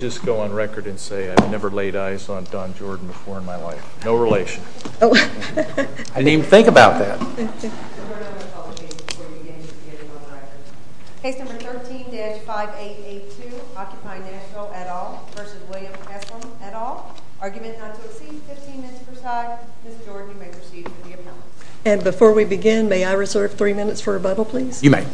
May I just go on record and say I've never laid eyes on Don Jordan before in my life. No relation. I didn't even think about that. Case number 13-5882, Occupy Nashville, et al. v. William Haslam, et al. Argument not to exceed 15 minutes per side. Ms. Jordan, you may proceed for the appellate. And before we begin, may I reserve three minutes for rebuttal, please? You may.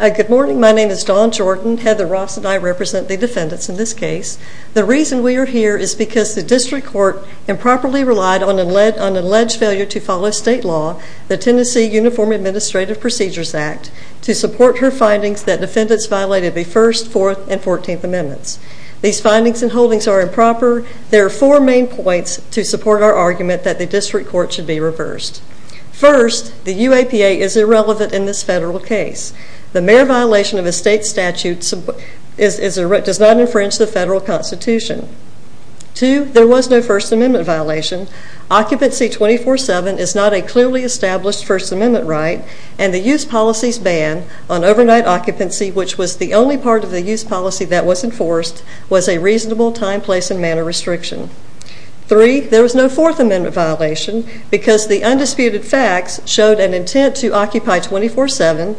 Good morning. My name is Dawn Jordan. Heather Ross and I represent the defendants in this case. The reason we are here is because the district court improperly relied on an alleged failure to follow state law, the Tennessee Uniform Administrative Procedures Act, to support her findings that defendants violated the First, Fourth, and Fourteenth Amendments. These findings and holdings are improper. There are four main points to support our argument that the district court should be reversed. First, the UAPA is irrelevant in this federal case. The mere violation of a state statute does not infringe the federal constitution. Two, there was no First Amendment violation. Occupancy 24-7 is not a clearly established First Amendment right, and the use policy's ban on overnight occupancy, which was the only part of the use policy that was enforced, was a reasonable time, place, and manner restriction. Three, there was no Fourth Amendment violation because the undisputed facts showed an intent to occupy 24-7,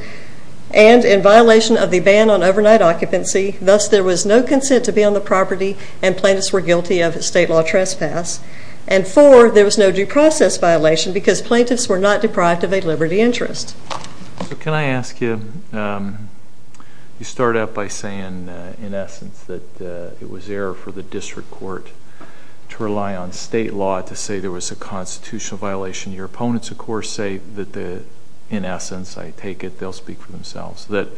and in violation of the ban on overnight occupancy, thus there was no consent to be on the property and plaintiffs were guilty of state law trespass. And four, there was no due process violation because plaintiffs were not deprived of a liberty interest. Can I ask you, you start out by saying, in essence, that it was error for the district court to rely on state law to say there was a constitutional violation. Your opponents, of course, say that the, in essence, I take it they'll speak for themselves, that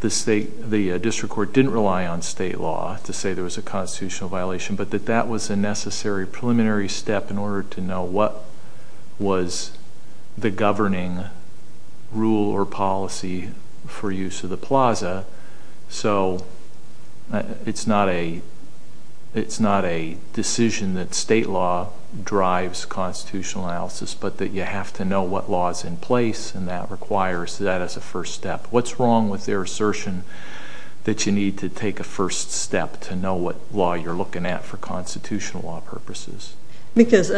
the district court didn't rely on state law to say there was a constitutional violation, but that that was a necessary preliminary step in order to know what was the governing rule or policy for use of the plaza, so it's not a decision that state law drives constitutional analysis, but that you have to know what law's in place, and that requires that as a first step. What's wrong with their assertion that you need to take a first step to know what law you're looking at for constitutional law purposes? Because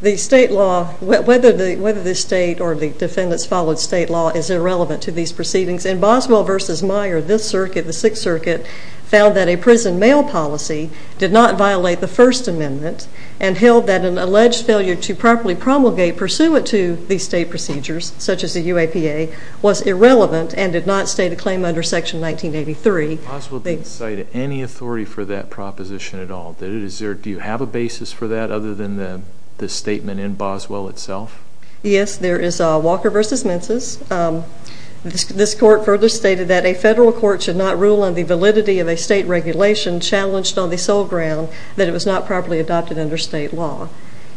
the state law, whether the state or the defendants followed state law, is irrelevant to these proceedings. In Boswell v. Meyer, this circuit, the Sixth Circuit, found that a prison mail policy did not violate the First Amendment and held that an alleged failure to properly promulgate pursuant to these state procedures, such as the UAPA, was irrelevant and did not state a claim under Section 1983. Boswell didn't cite any authority for that proposition at all. Do you have a basis for that other than the statement in Boswell itself? Yes, there is Walker v. Menses. This court further stated that a federal court should not rule on the validity of a state regulation challenged on the sole ground that it was not properly adopted under state law.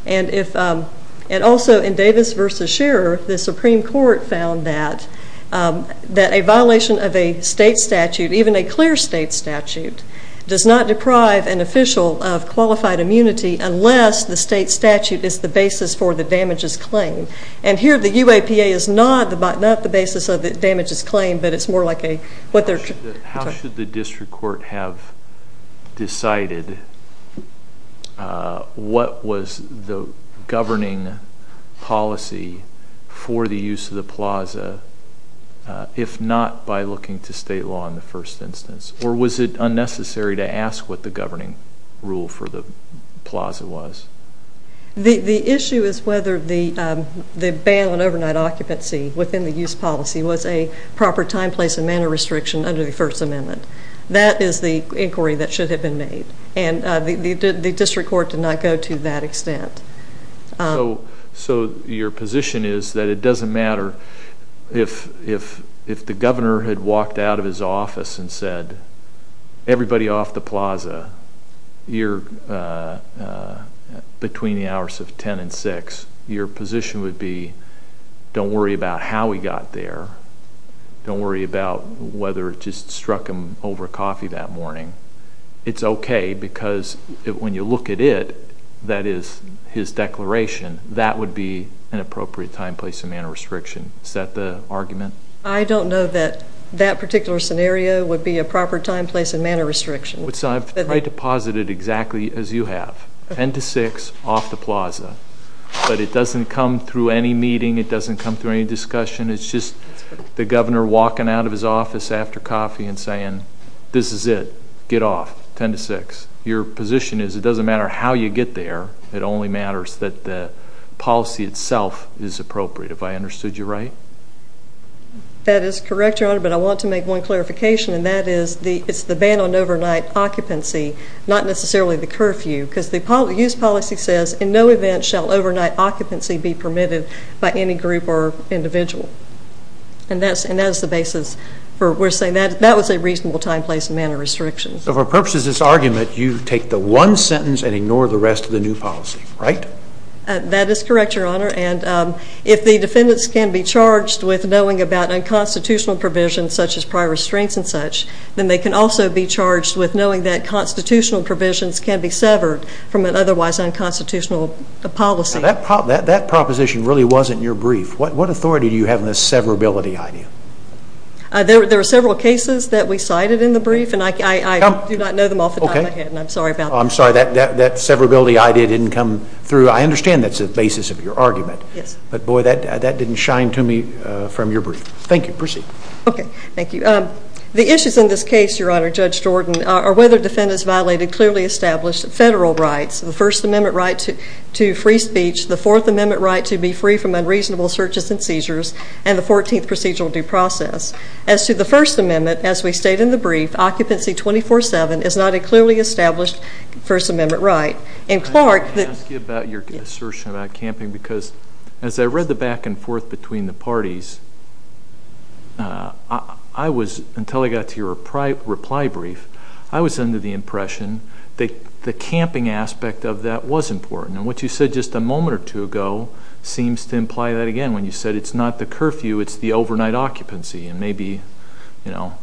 And also in Davis v. Shearer, the Supreme Court found that a violation of a state statute, even a clear state statute, does not deprive an official of qualified immunity unless the state statute is the basis for the damages claim. And here the UAPA is not the basis of the damages claim, but it's more like what they're protecting. How should the district court have decided what was the governing policy for the use of the plaza if not by looking to state law in the first instance? Or was it unnecessary to ask what the governing rule for the plaza was? The issue is whether the bail and overnight occupancy within the use policy was a proper time, place, and manner restriction under the First Amendment. That is the inquiry that should have been made. And the district court did not go to that extent. So your position is that it doesn't matter if the governor had walked out of his office and said everybody off the plaza between the hours of 10 and 6, your position would be don't worry about how he got there, don't worry about whether it just struck him over coffee that morning. It's okay because when you look at it, that is his declaration, that would be an appropriate time, place, and manner restriction. Is that the argument? I don't know that that particular scenario would be a proper time, place, and manner restriction. I've tried to posit it exactly as you have. 10 to 6, off the plaza. But it doesn't come through any meeting. It doesn't come through any discussion. It's just the governor walking out of his office after coffee and saying this is it, get off, 10 to 6. Your position is it doesn't matter how you get there. It only matters that the policy itself is appropriate. Have I understood you right? That is correct, Your Honor, but I want to make one clarification, and that is it's the bail and overnight occupancy, not necessarily the curfew because the use policy says in no event shall overnight occupancy be permitted by any group or individual. And that is the basis for saying that was a reasonable time, place, and manner restriction. So for purposes of this argument, you take the one sentence and ignore the rest of the new policy, right? That is correct, Your Honor, and if the defendants can be charged with knowing about unconstitutional provisions such as prior restraints and such, then they can also be charged with knowing that constitutional provisions can be severed from an otherwise unconstitutional policy. That proposition really wasn't in your brief. What authority do you have in this severability idea? There are several cases that we cited in the brief, and I do not know them off the top of my head, and I'm sorry about that. I'm sorry. That severability idea didn't come through. I understand that's the basis of your argument. Yes. But, boy, that didn't shine to me from your brief. Thank you. Proceed. Okay. Thank you. The issues in this case, Your Honor, Judge Jordan, are whether defendants violated clearly established federal rights, the First Amendment right to free speech, the Fourth Amendment right to be free from unreasonable searches and seizures, and the 14th procedural due process. As to the First Amendment, as we state in the brief, occupancy 24-7 is not a clearly established First Amendment right. And Clark, the Can I ask you about your assertion about camping? Yes. Because as I read the back and forth between the parties, I was, until I got to your reply brief, I was under the impression that the camping aspect of that was important. And what you said just a moment or two ago seems to imply that again. When you said it's not the curfew, it's the overnight occupancy. And maybe, you know,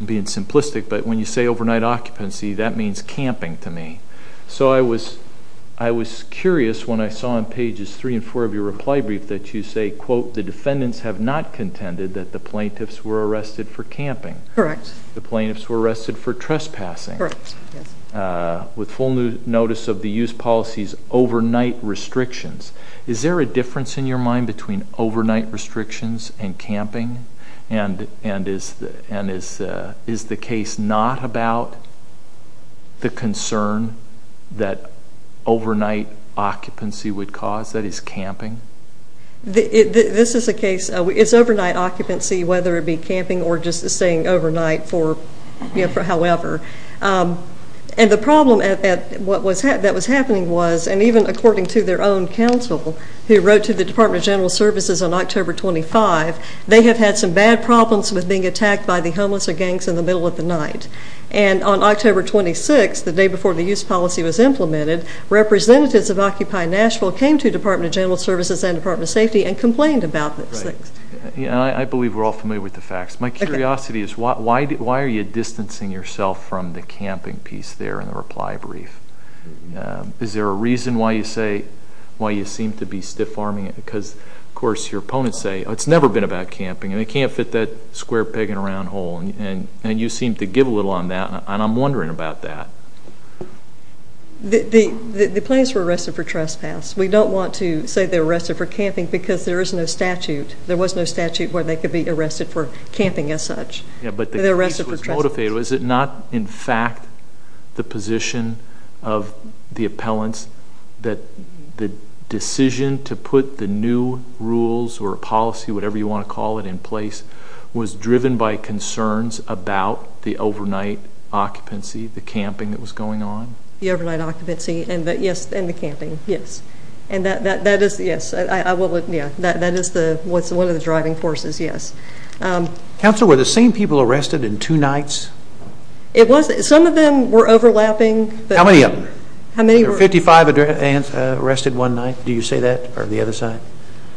I'm being simplistic, but when you say overnight occupancy, that means camping to me. So I was curious when I saw on pages three and four of your reply brief that you say, quote, the defendants have not contended that the plaintiffs were arrested for camping. Correct. The plaintiffs were arrested for trespassing. Correct. With full notice of the use policy's overnight restrictions. Is there a difference in your mind between overnight restrictions and camping? And is the case not about the concern that overnight occupancy would cause, that is camping? This is a case, it's overnight occupancy, whether it be camping or just staying overnight for however. And the problem that was happening was, and even according to their own counsel, who wrote to the Department of General Services on October 25, they have had some bad problems with being attacked by the homeless or gangs in the middle of the night. And on October 26, the day before the use policy was implemented, representatives of Occupy Nashville came to the Department of General Services and Department of Safety and complained about those things. I believe we're all familiar with the facts. My curiosity is why are you distancing yourself from the camping piece there in the reply brief? Is there a reason why you seem to be stiff-arming it? Because, of course, your opponents say it's never been about camping and they can't fit that square peg in a round hole, and you seem to give a little on that, and I'm wondering about that. The plaintiffs were arrested for trespass. We don't want to say they were arrested for camping because there is no statute. There was no statute where they could be arrested for camping as such. Yeah, but the piece was motivated. Was it not, in fact, the position of the appellants that the decision to put the new rules or policy, whatever you want to call it, in place, was driven by concerns about the overnight occupancy, the camping that was going on? The overnight occupancy and the camping, yes. That is one of the driving forces, yes. Counselor, were the same people arrested in two nights? Some of them were overlapping. How many of them? There were 55 arrested one night, do you say that, or the other side?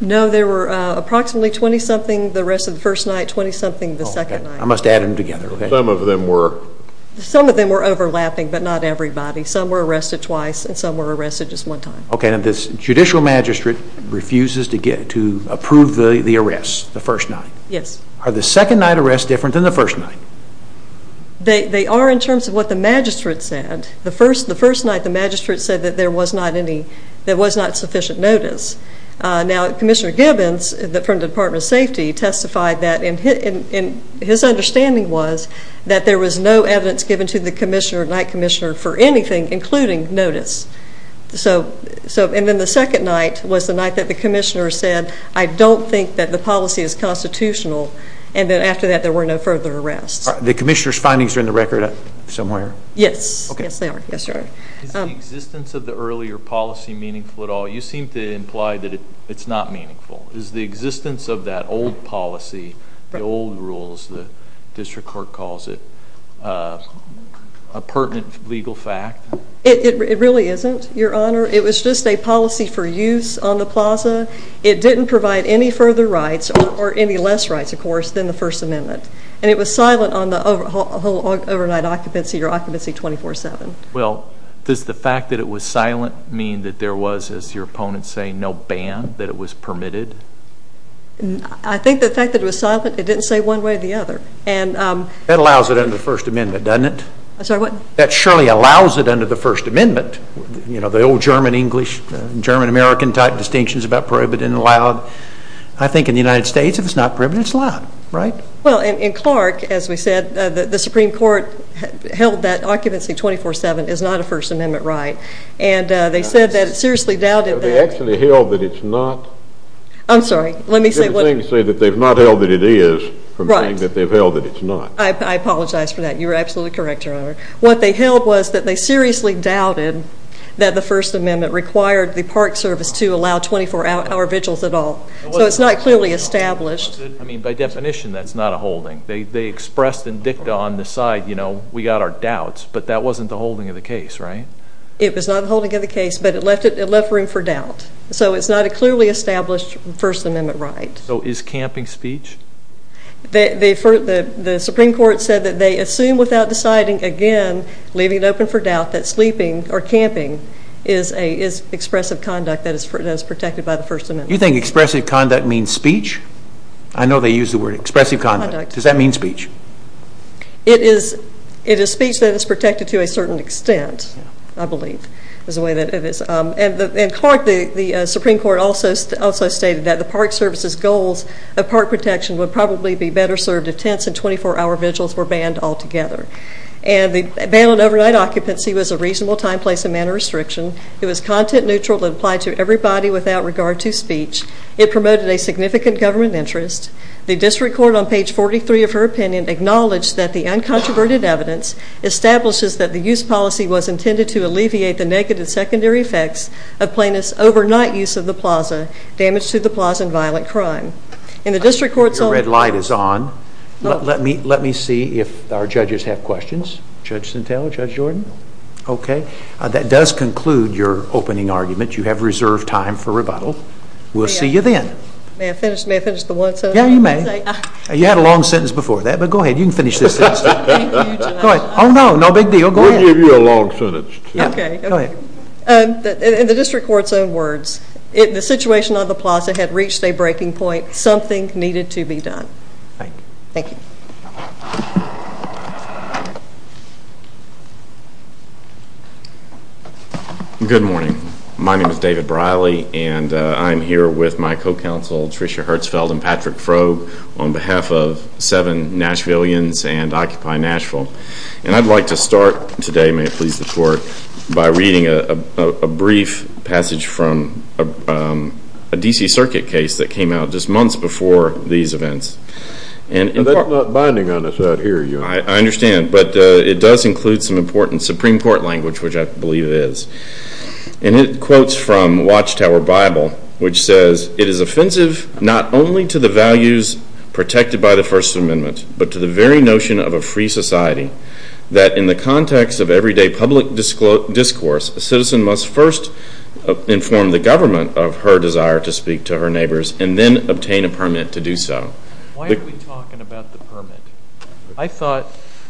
No, there were approximately 20-something the rest of the first night, 20-something the second night. I must add them together. Some of them were. Some of them were overlapping, but not everybody. Some were arrested twice, and some were arrested just one time. Okay, and this judicial magistrate refuses to approve the arrests the first night. Yes. Are the second-night arrests different than the first night? They are in terms of what the magistrate said. The first night, the magistrate said that there was not sufficient notice. Now, Commissioner Gibbons from the Department of Safety testified that, and his understanding was that there was no evidence given to the commissioner, night commissioner, for anything, including notice. And then the second night was the night that the commissioner said, I don't think that the policy is constitutional, and then after that there were no further arrests. The commissioner's findings are in the record somewhere? Yes, they are. Is the existence of the earlier policy meaningful at all? You seem to imply that it's not meaningful. Is the existence of that old policy, the old rules, the district court calls it, a pertinent legal fact? It really isn't, Your Honor. It was just a policy for use on the plaza. It didn't provide any further rights, or any less rights, of course, than the First Amendment, and it was silent on the whole overnight occupancy or occupancy 24-7. Well, does the fact that it was silent mean that there was, as your opponents say, no ban, that it was permitted? I think the fact that it was silent, it didn't say one way or the other. That allows it under the First Amendment, doesn't it? I'm sorry, what? That surely allows it under the First Amendment, you know, the old German-English, German-American type distinctions about prohibited and allowed. I think in the United States, if it's not prohibited, it's allowed, right? Well, in Clark, as we said, the Supreme Court held that occupancy 24-7 is not a First Amendment right, and they said that it seriously doubted that. They actually held that it's not. I'm sorry, let me say what. They're saying that they've not held that it is, from saying that they've held that it's not. I apologize for that. You're absolutely correct, Your Honor. What they held was that they seriously doubted that the First Amendment required the Park Service to allow 24-hour vigils at all. So it's not clearly established. I mean, by definition, that's not a holding. They expressed in dicta on the side, you know, we got our doubts, but that wasn't the holding of the case, right? It was not the holding of the case, but it left room for doubt. So it's not a clearly established First Amendment right. So is camping speech? The Supreme Court said that they assume without deciding again, leaving it open for doubt, that sleeping or camping is expressive conduct that is protected by the First Amendment. You think expressive conduct means speech? I know they use the word expressive conduct. Does that mean speech? It is speech that is protected to a certain extent. I believe is the way that it is. And the Supreme Court also stated that the Park Service's goals of park protection would probably be better served if tents and 24-hour vigils were banned altogether. And the bail and overnight occupancy was a reasonable time, place, and manner restriction. It was content neutral and applied to everybody without regard to speech. It promoted a significant government interest. The district court on page 43 of her opinion acknowledged that the uncontroverted evidence establishes that the use policy was intended to alleviate the negative secondary effects of plaintiff's overnight use of the plaza, damage to the plaza, and violent crime. Your red light is on. Let me see if our judges have questions. Judge Sintel, Judge Jordan? Okay. That does conclude your opening argument. You have reserved time for rebuttal. We'll see you then. May I finish the one sentence? Yeah, you may. You had a long sentence before that, but go ahead. You can finish this sentence. Thank you. Go ahead. Oh, no, no big deal. Go ahead. We'll give you a long sentence, too. Okay. Go ahead. In the district court's own words, the situation on the plaza had reached a breaking point. Something needed to be done. Thank you. Thank you. Good morning. My name is David Briley, and I'm here with my co-counsel Tricia Hertzfeld and Patrick Froh on behalf of Seven Nashvilleians and Occupy Nashville. And I'd like to start today, may it please the court, by reading a brief passage from a D.C. Circuit case that came out just months before these events. That's not binding on us out here. I understand, but it does include some important Supreme Court language, which I believe it is. And it quotes from Watchtower Bible, which says, It is offensive not only to the values protected by the First Amendment, but to the very notion of a free society, that in the context of everyday public discourse, a citizen must first inform the government of her desire to speak to her neighbors and then obtain a permit to do so. Why are we talking about the permit? I thought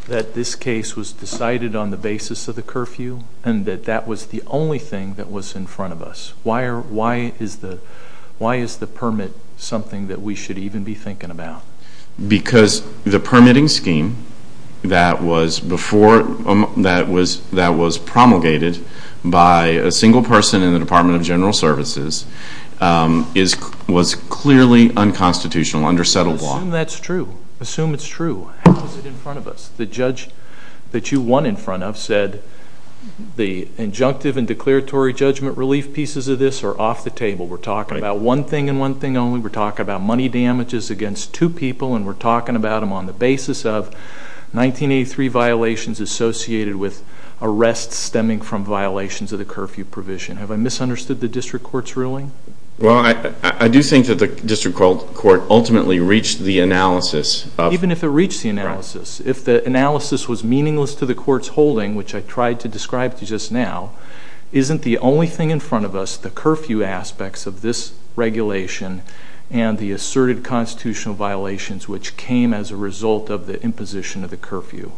that this case was decided on the basis of the curfew and that that was the only thing that was in front of us. Why is the permit something that we should even be thinking about? Because the permitting scheme that was promulgated by a single person in the Department of General Services was clearly unconstitutional, under settled law. Assume that's true. Assume it's true. How is it in front of us? The judge that you won in front of said the injunctive and declaratory judgment relief pieces of this are off the table. We're talking about one thing and one thing only. We're talking about money damages against two people, and we're talking about them on the basis of 1983 violations associated with arrests stemming from violations of the curfew provision. Have I misunderstood the district court's ruling? Well, I do think that the district court ultimately reached the analysis of Even if it reached the analysis, if the analysis was meaningless to the court's holding, which I tried to describe to you just now, isn't the only thing in front of us the curfew aspects of this regulation and the asserted constitutional violations which came as a result of the imposition of the curfew?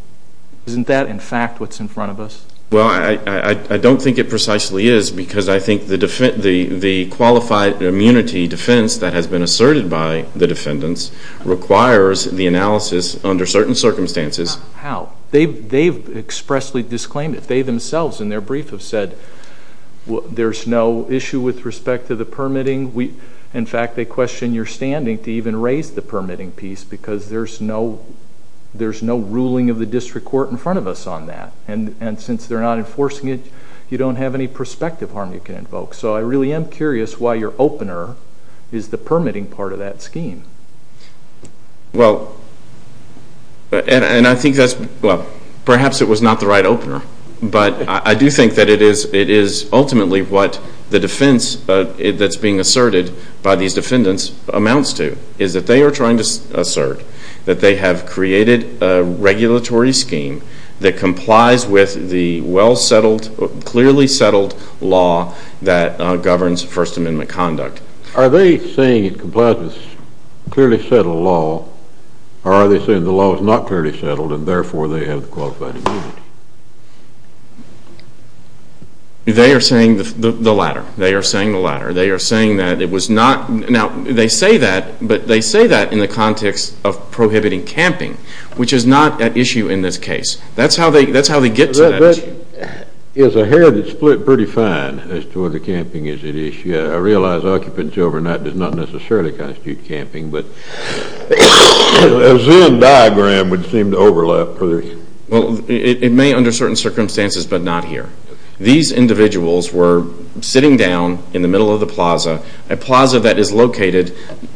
Isn't that, in fact, what's in front of us? Well, I don't think it precisely is because I think the qualified immunity defense that has been asserted by the defendants requires the analysis under certain circumstances. How? They've expressly disclaimed it. They themselves in their brief have said there's no issue with respect to the permitting. In fact, they question your standing to even raise the permitting piece because there's no ruling of the district court in front of us on that. And since they're not enforcing it, you don't have any prospective harm you can invoke. So I really am curious why your opener is the permitting part of that scheme. Well, and I think that's, well, perhaps it was not the right opener. But I do think that it is ultimately what the defense that's being asserted by these defendants amounts to is that they are trying to assert that they have created a regulatory scheme that complies with the well-settled, clearly settled law that governs First Amendment conduct. Are they saying it complies with clearly settled law, or are they saying the law is not clearly settled and therefore they have the qualified immunity? They are saying the latter. They are saying the latter. They are saying that it was not. Now, they say that, but they say that in the context of prohibiting camping, which is not at issue in this case. That's how they get to that issue. That is a hair that's split pretty fine as to whether camping is at issue. I realize occupancy overnight does not necessarily constitute camping, but a zoom diagram would seem to overlap. Well, it may under certain circumstances, but not here. These individuals were sitting down in the middle of the plaza, a plaza that is located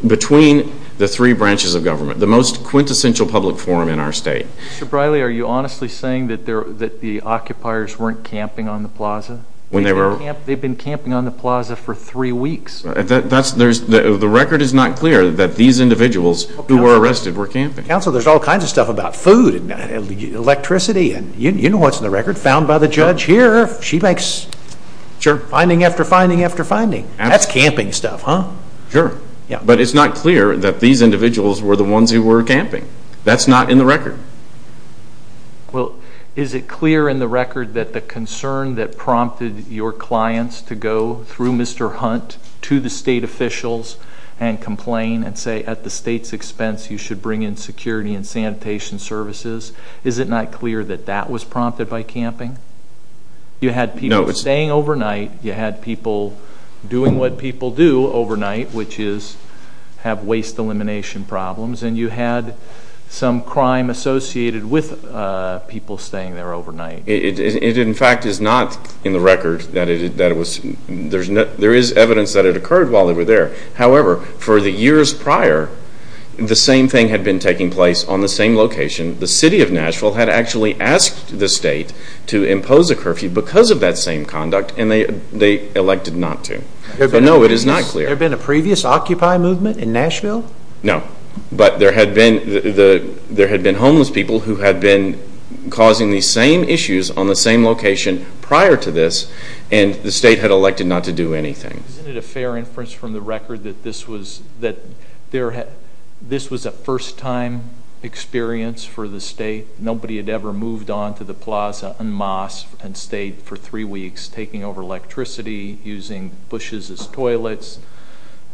between the three branches of government, the most quintessential public forum in our state. Mr. Briley, are you honestly saying that the occupiers weren't camping on the plaza? They've been camping on the plaza for three weeks. The record is not clear that these individuals who were arrested were camping. Counsel, there's all kinds of stuff about food and electricity, and you know what's in the record found by the judge here. She makes finding after finding after finding. That's camping stuff, huh? Sure. But it's not clear that these individuals were the ones who were camping. That's not in the record. Well, is it clear in the record that the concern that prompted your clients to go through Mr. Hunt to the state officials and complain and say, at the state's expense, you should bring in security and sanitation services, is it not clear that that was prompted by camping? You had people staying overnight. You had people doing what people do overnight, which is have waste elimination problems, and you had some crime associated with people staying there overnight. It, in fact, is not in the record that it was. There is evidence that it occurred while they were there. However, for the years prior, the same thing had been taking place on the same location. The city of Nashville had actually asked the state to impose a curfew because of that same conduct, and they elected not to. No, it is not clear. There been a previous Occupy movement in Nashville? No, but there had been homeless people who had been causing these same issues on the same location prior to this, and the state had elected not to do anything. Isn't it a fair inference from the record that this was a first-time experience for the state? Nobody had ever moved on to the plaza in Moss and stayed for three weeks taking over electricity, using bushes as toilets.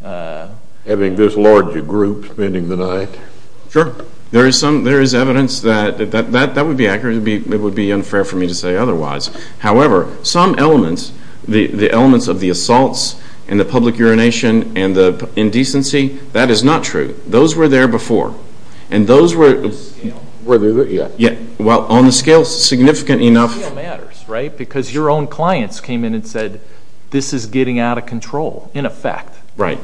Having this large a group spending the night. Sure. There is evidence that that would be accurate. It would be unfair for me to say otherwise. However, some elements, the elements of the assaults and the public urination and the indecency, that is not true. Those were there before, and those were on the scale significant enough. Scale matters, right? Because your own clients came in and said, this is getting out of control, in effect. Right.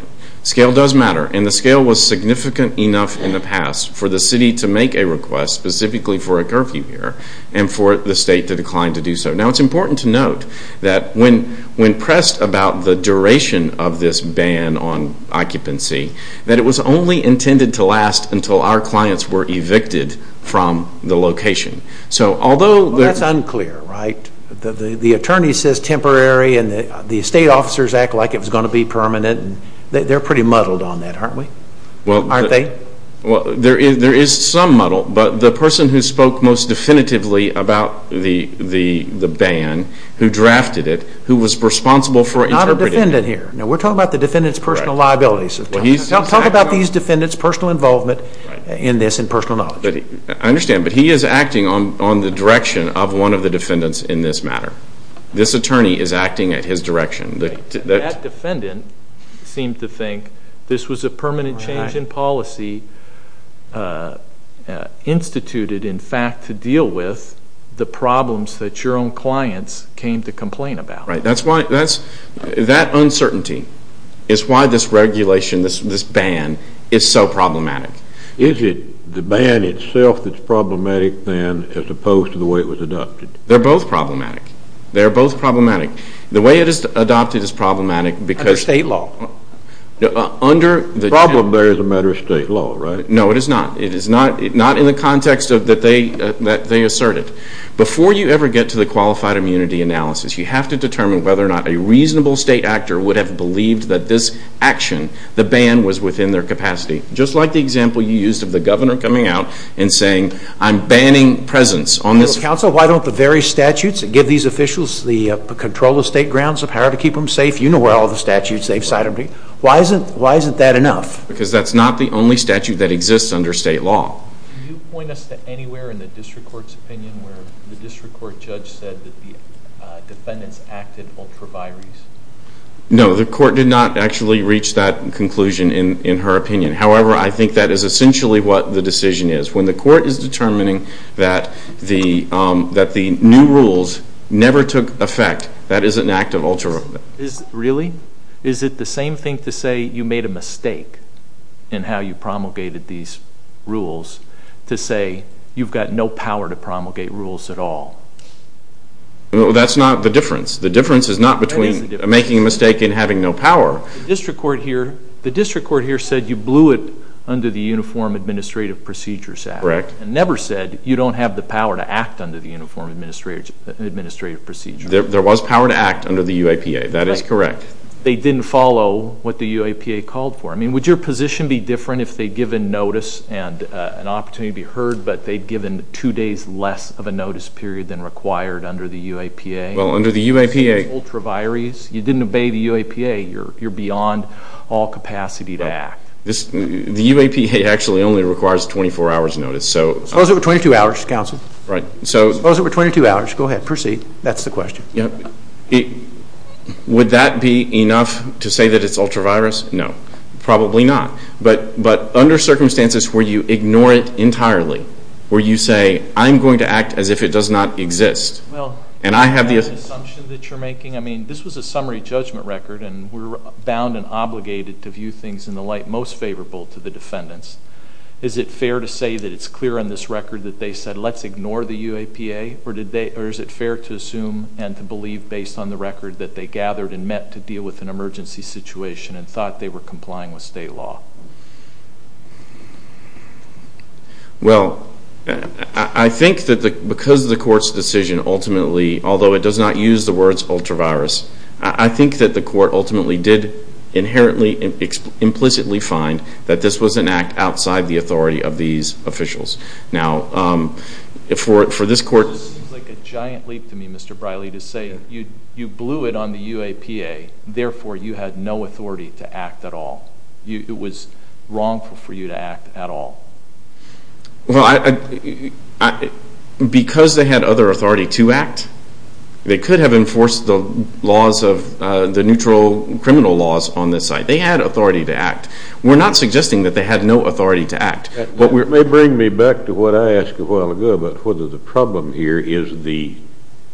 Scale does matter, and the scale was significant enough in the past for the city to make a request, specifically for a curfew here, and for the state to decline to do so. Now, it is important to note that when pressed about the duration of this ban on occupancy, that it was only intended to last until our clients were evicted from the location. That is unclear, right? The attorney says temporary, and the state officers act like it was going to be permanent. They are pretty muddled on that, aren't they? There is some muddle, but the person who spoke most definitively about the ban, who drafted it, who was responsible for interpreting it. Not a defendant here. We are talking about the defendant's personal liabilities. Talk about these defendants' personal involvement in this and personal knowledge. I understand, but he is acting on the direction of one of the defendants in this matter. This attorney is acting at his direction. That defendant seemed to think this was a permanent change in policy instituted, in fact, to deal with the problems that your own clients came to complain about. Right. That uncertainty is why this regulation, this ban, is so problematic. Is it the ban itself that is problematic, then, as opposed to the way it was adopted? They are both problematic. They are both problematic. The way it is adopted is problematic because... Under state law. The problem there is a matter of state law, right? No, it is not. It is not in the context that they asserted. Before you ever get to the qualified immunity analysis, you have to determine whether or not a reasonable state actor would have believed that this action, the ban, was within their capacity. Just like the example you used of the governor coming out and saying, I am banning presence on this... Counsel, why don't the various statutes that give these officials the control of state grounds, the power to keep them safe, you know all the statutes they have cited. Why isn't that enough? Because that is not the only statute that exists under state law. Can you point us to anywhere in the district court's opinion where the district court judge said that the defendants acted ultra vires? No, the court did not actually reach that conclusion in her opinion. However, I think that is essentially what the decision is. When the court is determining that the new rules never took effect, that is an act of ultra vires. Really? Is it the same thing to say you made a mistake in how you promulgated these rules to say you've got no power to promulgate rules at all? That's not the difference. The difference is not between making a mistake and having no power. The district court here said you blew it under the Uniform Administrative Procedures Act and never said you don't have the power to act under the Uniform Administrative Procedures Act. There was power to act under the UAPA. That is correct. They didn't follow what the UAPA called for. I mean, would your position be different if they'd given notice and an opportunity to be heard but they'd given two days less of a notice period than required under the UAPA? Well, under the UAPA... You didn't obey the UAPA. You're beyond all capacity to act. The UAPA actually only requires a 24-hour notice. Suppose it were 22 hours, counsel. Suppose it were 22 hours. Go ahead. Proceed. That's the question. Would that be enough to say that it's ultra virus? No. Probably not. But under circumstances where you ignore it entirely, where you say I'm going to act as if it does not exist, and I have the... Well, is that an assumption that you're making? I mean, this was a summary judgment record, and we're bound and obligated to view things in the light most favorable to the defendants. Is it fair to say that it's clear on this record that they said let's ignore the UAPA, or is it fair to assume and to believe based on the record that they gathered and met to deal with an emergency situation and thought they were complying with state law? Well, I think that because of the court's decision, ultimately, although it does not use the words ultra virus, I think that the court ultimately did inherently implicitly find that this was an act outside the authority of these officials. Now, for this court... It seems like a giant leap to me, Mr. Briley, to say you blew it on the UAPA, therefore you had no authority to act at all. It was wrong for you to act at all. Well, because they had other authority to act, they could have enforced the laws of the neutral criminal laws on this side. They had authority to act. We're not suggesting that they had no authority to act. That may bring me back to what I asked a while ago about whether the problem here is the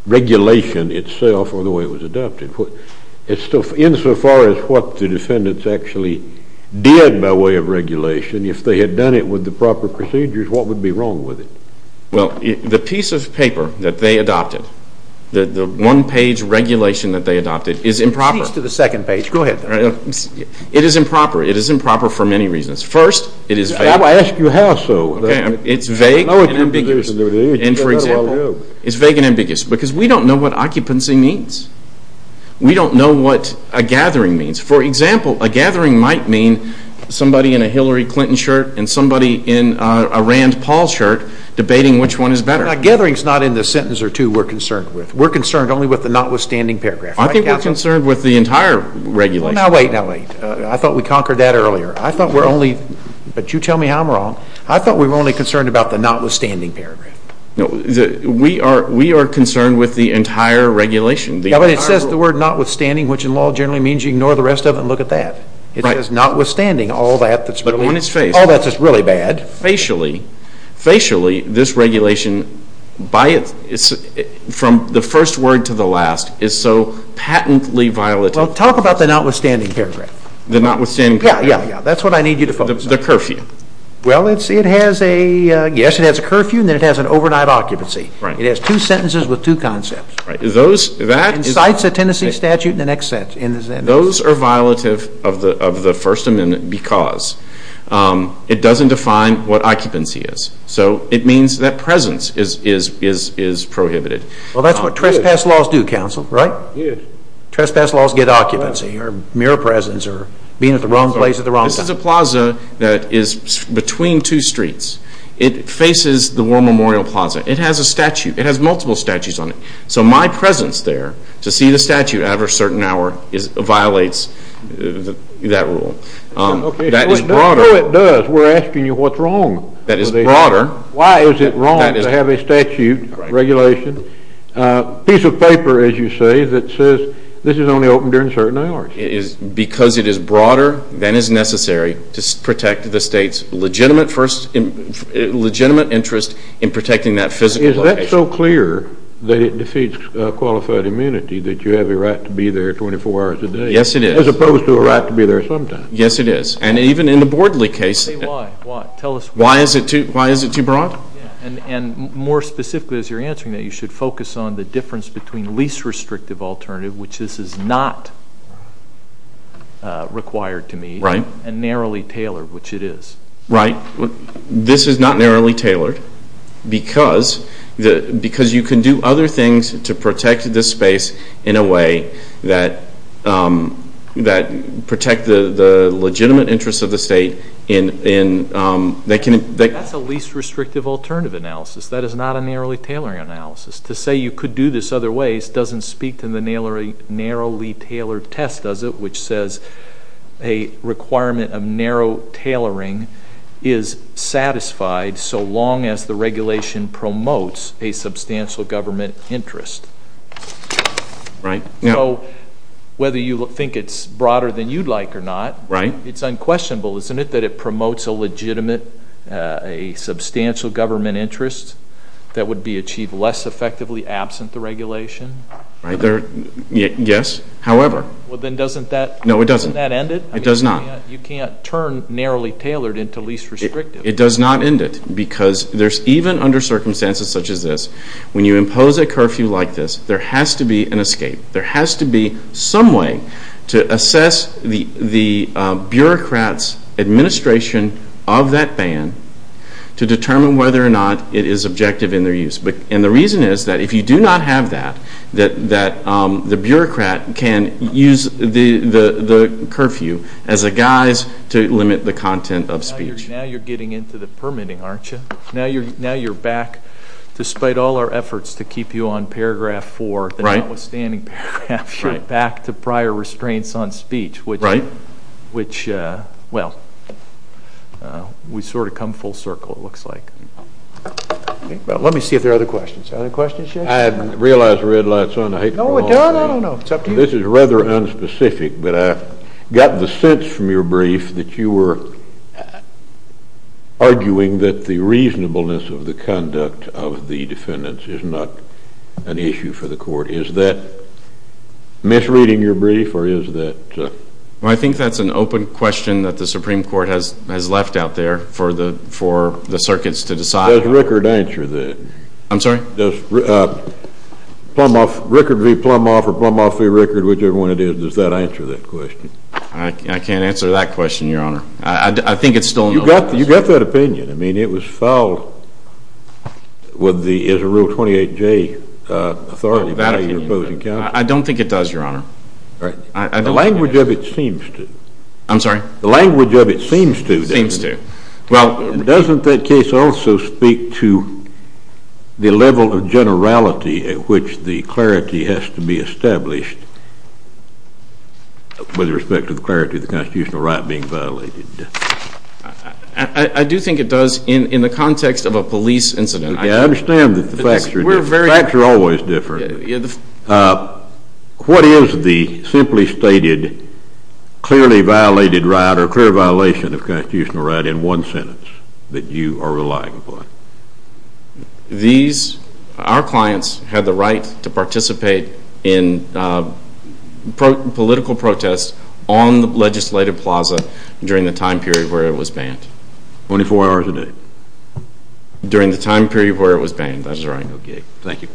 regulation itself or the way it was adopted. Insofar as what the defendants actually did by way of regulation, if they had done it with the proper procedures, what would be wrong with it? Well, the piece of paper that they adopted, the one-page regulation that they adopted, is improper. It leads to the second page. Go ahead. It is improper. It is improper for many reasons. First, it is vague. I asked you how so. It's vague and ambiguous. And for example, it's vague and ambiguous because we don't know what occupancy means. We don't know what a gathering means. For example, a gathering might mean somebody in a Hillary Clinton shirt and somebody in a Rand Paul shirt debating which one is better. A gathering is not in the sentence or two we're concerned with. We're concerned only with the notwithstanding paragraph. I think we're concerned with the entire regulation. Now wait, now wait. I thought we conquered that earlier. I thought we're only, but you tell me how I'm wrong, I thought we were only concerned about the notwithstanding paragraph. We are concerned with the entire regulation. Yeah, but it says the word notwithstanding, which in law generally means you ignore the rest of it and look at that. It says notwithstanding all that that's really bad. But on its face. Facially, this regulation, from the first word to the last, is so patently violated. Well, talk about the notwithstanding paragraph. The notwithstanding paragraph. Yeah, yeah, yeah. That's what I need you to focus on. The curfew. Well, it has a, yes, it has a curfew, and then it has an overnight occupancy. Right. It has two sentences with two concepts. Right. And cites a Tennessee statute in the next sentence. Those are violative of the First Amendment because it doesn't define what occupancy is. So it means that presence is prohibited. Well, that's what trespass laws do, counsel, right? Yes. Trespass laws get occupancy or mere presence or being at the wrong place at the wrong time. This is a plaza that is between two streets. It faces the War Memorial Plaza. It has a statute. It has multiple statutes on it. So my presence there to see the statute at a certain hour violates that rule. Okay. That is broader. No, it does. We're asking you what's wrong. That is broader. Why is it wrong to have a statute regulation, a piece of paper, as you say, that says this is only open during certain hours? Because it is broader than is necessary to protect the state's legitimate interest in protecting that physical location. Is that so clear that it defeats qualified immunity that you have a right to be there 24 hours a day? Yes, it is. As opposed to a right to be there sometimes. Yes, it is. And even in the Bordley case. Why? Why? Tell us why. Why is it too broad? And more specifically, as you're answering that, you should focus on the difference between least restrictive alternative, which this is not required to meet, and narrowly tailored, which it is. Right. This is not narrowly tailored because you can do other things to protect this space in a way that protects the legitimate interest of the state. That's a least restrictive alternative analysis. That is not a narrowly tailoring analysis. To say you could do this other ways doesn't speak to the narrowly tailored test, does it, which says a requirement of narrow tailoring is satisfied so long as the regulation promotes a substantial government interest. Right. So whether you think it's broader than you'd like or not, it's unquestionable, isn't it, a substantial government interest that would be achieved less effectively absent the regulation? Right. Yes. However. Well, then doesn't that end it? No, it doesn't. It does not. You can't turn narrowly tailored into least restrictive. It does not end it because even under circumstances such as this, when you impose a curfew like this, there has to be an escape. There has to be some way to assess the bureaucrat's administration of that ban to determine whether or not it is objective in their use. And the reason is that if you do not have that, that the bureaucrat can use the curfew as a guise to limit the content of speech. Now you're getting into the permitting, aren't you? Now you're back, despite all our efforts to keep you on paragraph 4, the notwithstanding paragraph, back to prior restraints on speech, which, well, we sort of come full circle, it looks like. Let me see if there are other questions. Are there questions yet? I realize the red light's on. No, we're done. I don't know. It's up to you. This is rather unspecific, but I got the sense from your brief that you were arguing that the reasonableness of the conduct of the defendants is not an issue for the court. Is that misreading your brief, or is that? Well, I think that's an open question that the Supreme Court has left out there for the circuits to decide. Does Rickard answer that? I'm sorry? Does Rickard v. Plumhoff or Plumhoff v. Rickard, whichever one it is, does that answer that question? I can't answer that question, Your Honor. I think it still knows. You got that opinion. I mean, it was filed with the Israel 28J authority by your opposing counsel. I don't think it does, Your Honor. The language of it seems to. I'm sorry? The language of it seems to. Seems to. Well, doesn't that case also speak to the level of generality at which the clarity has to be established with respect to the clarity of the constitutional right being violated? I do think it does in the context of a police incident. I understand that the facts are different. The facts are always different. What is the simply stated clearly violated right or clear violation of constitutional right in one sentence that you are relying upon? Our clients have the right to participate in political protests on the legislative plaza during the time period where it was banned. Twenty-four hours a day. During the time period where it was banned. That's right. Okay. Thank you.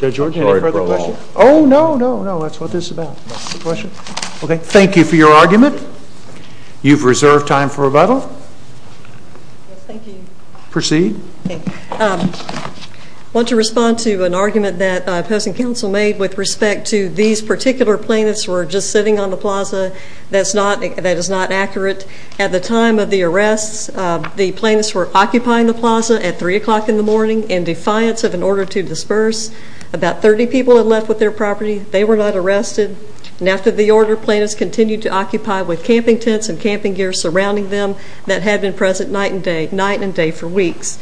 Judge George, any further questions? Oh, no, no, no. That's what this is about. No questions? Okay. Thank you for your argument. You've reserved time for rebuttal. Yes, thank you. Proceed. Okay. I want to respond to an argument that opposing counsel made with respect to these particular plaintiffs who are just sitting on the plaza. That is not accurate. At the time of the arrests, the plaintiffs were occupying the plaza at 3 o'clock in the morning in defiance of an order to disperse. About 30 people had left with their property. They were not arrested. And after the order, plaintiffs continued to occupy with camping tents and camping gear surrounding them that had been present night and day for weeks.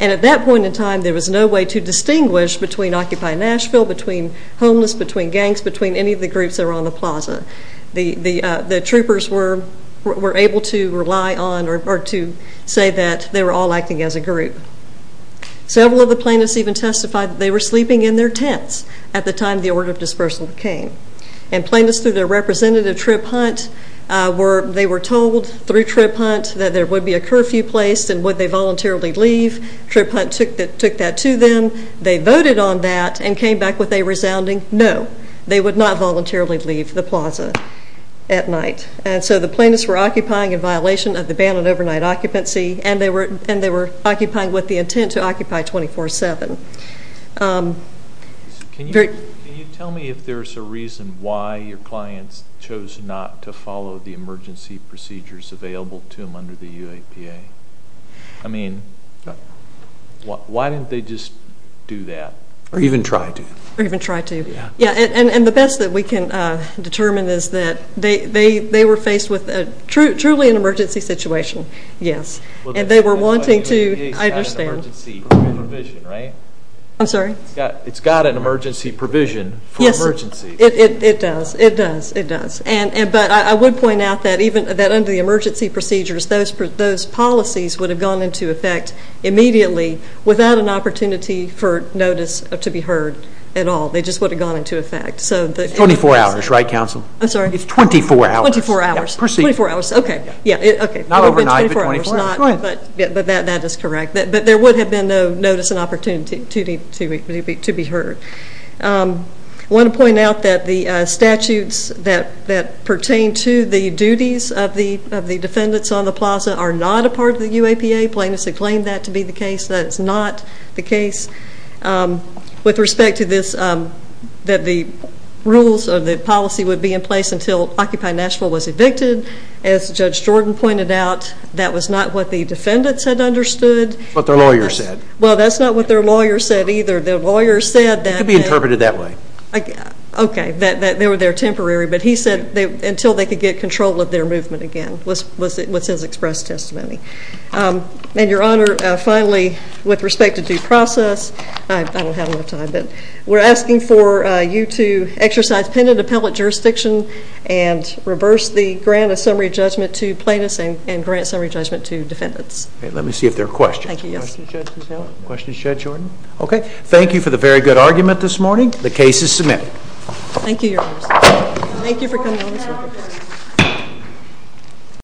And at that point in time, there was no way to distinguish between occupying Nashville, between homeless, between gangs, between any of the groups that were on the plaza. The troopers were able to rely on or to say that they were all acting as a group. Several of the plaintiffs even testified that they were sleeping in their tents at the time the order of dispersal came. And plaintiffs, through their representative trip hunt, they were told through trip hunt that there would be a curfew placed and would they voluntarily leave. Trip hunt took that to them. They voted on that and came back with a resounding no. They would not voluntarily leave the plaza at night. And so the plaintiffs were occupying in violation of the ban on overnight occupancy and they were occupying with the intent to occupy 24-7. Can you tell me if there's a reason why your clients chose not to follow the emergency procedures available to them under the UAPA? I mean, why didn't they just do that? Or even try to. Or even try to. Yeah. And the best that we can determine is that they were faced with truly an emergency situation. Yes. And they were wanting to, I understand. UAPA's got an emergency provision, right? I'm sorry? It's got an emergency provision for emergencies. It does. It does. It does. But I would point out that even under the emergency procedures, those policies would have gone into effect immediately without an opportunity for notice to be heard. At all. They just would have gone into effect. It's 24 hours, right, counsel? I'm sorry? It's 24 hours. 24 hours. Proceed. 24 hours. Okay. Not overnight, but 24 hours. But that is correct. But there would have been no notice and opportunity to be heard. I want to point out that the statutes that pertain to the duties of the defendants on the plaza are not a part of the UAPA. Plaintiffs have claimed that to be the case. That is not the case. With respect to this, that the rules of the policy would be in place until Occupy Nashville was evicted. As Judge Jordan pointed out, that was not what the defendants had understood. That's what their lawyer said. Well, that's not what their lawyer said either. Their lawyer said that- It could be interpreted that way. Okay. They were there temporary, but he said until they could get control of their movement again was his expressed testimony. Your Honor, finally, with respect to due process, I don't have enough time, but we're asking for you to exercise pen and appellate jurisdiction and reverse the grant of summary judgment to plaintiffs and grant summary judgment to defendants. Let me see if there are questions. Thank you, yes. Questions, Judge Jordan? Okay. Thank you for the very good argument this morning. The case is submitted. Thank you, Your Honor. Thank you for coming on the circuit.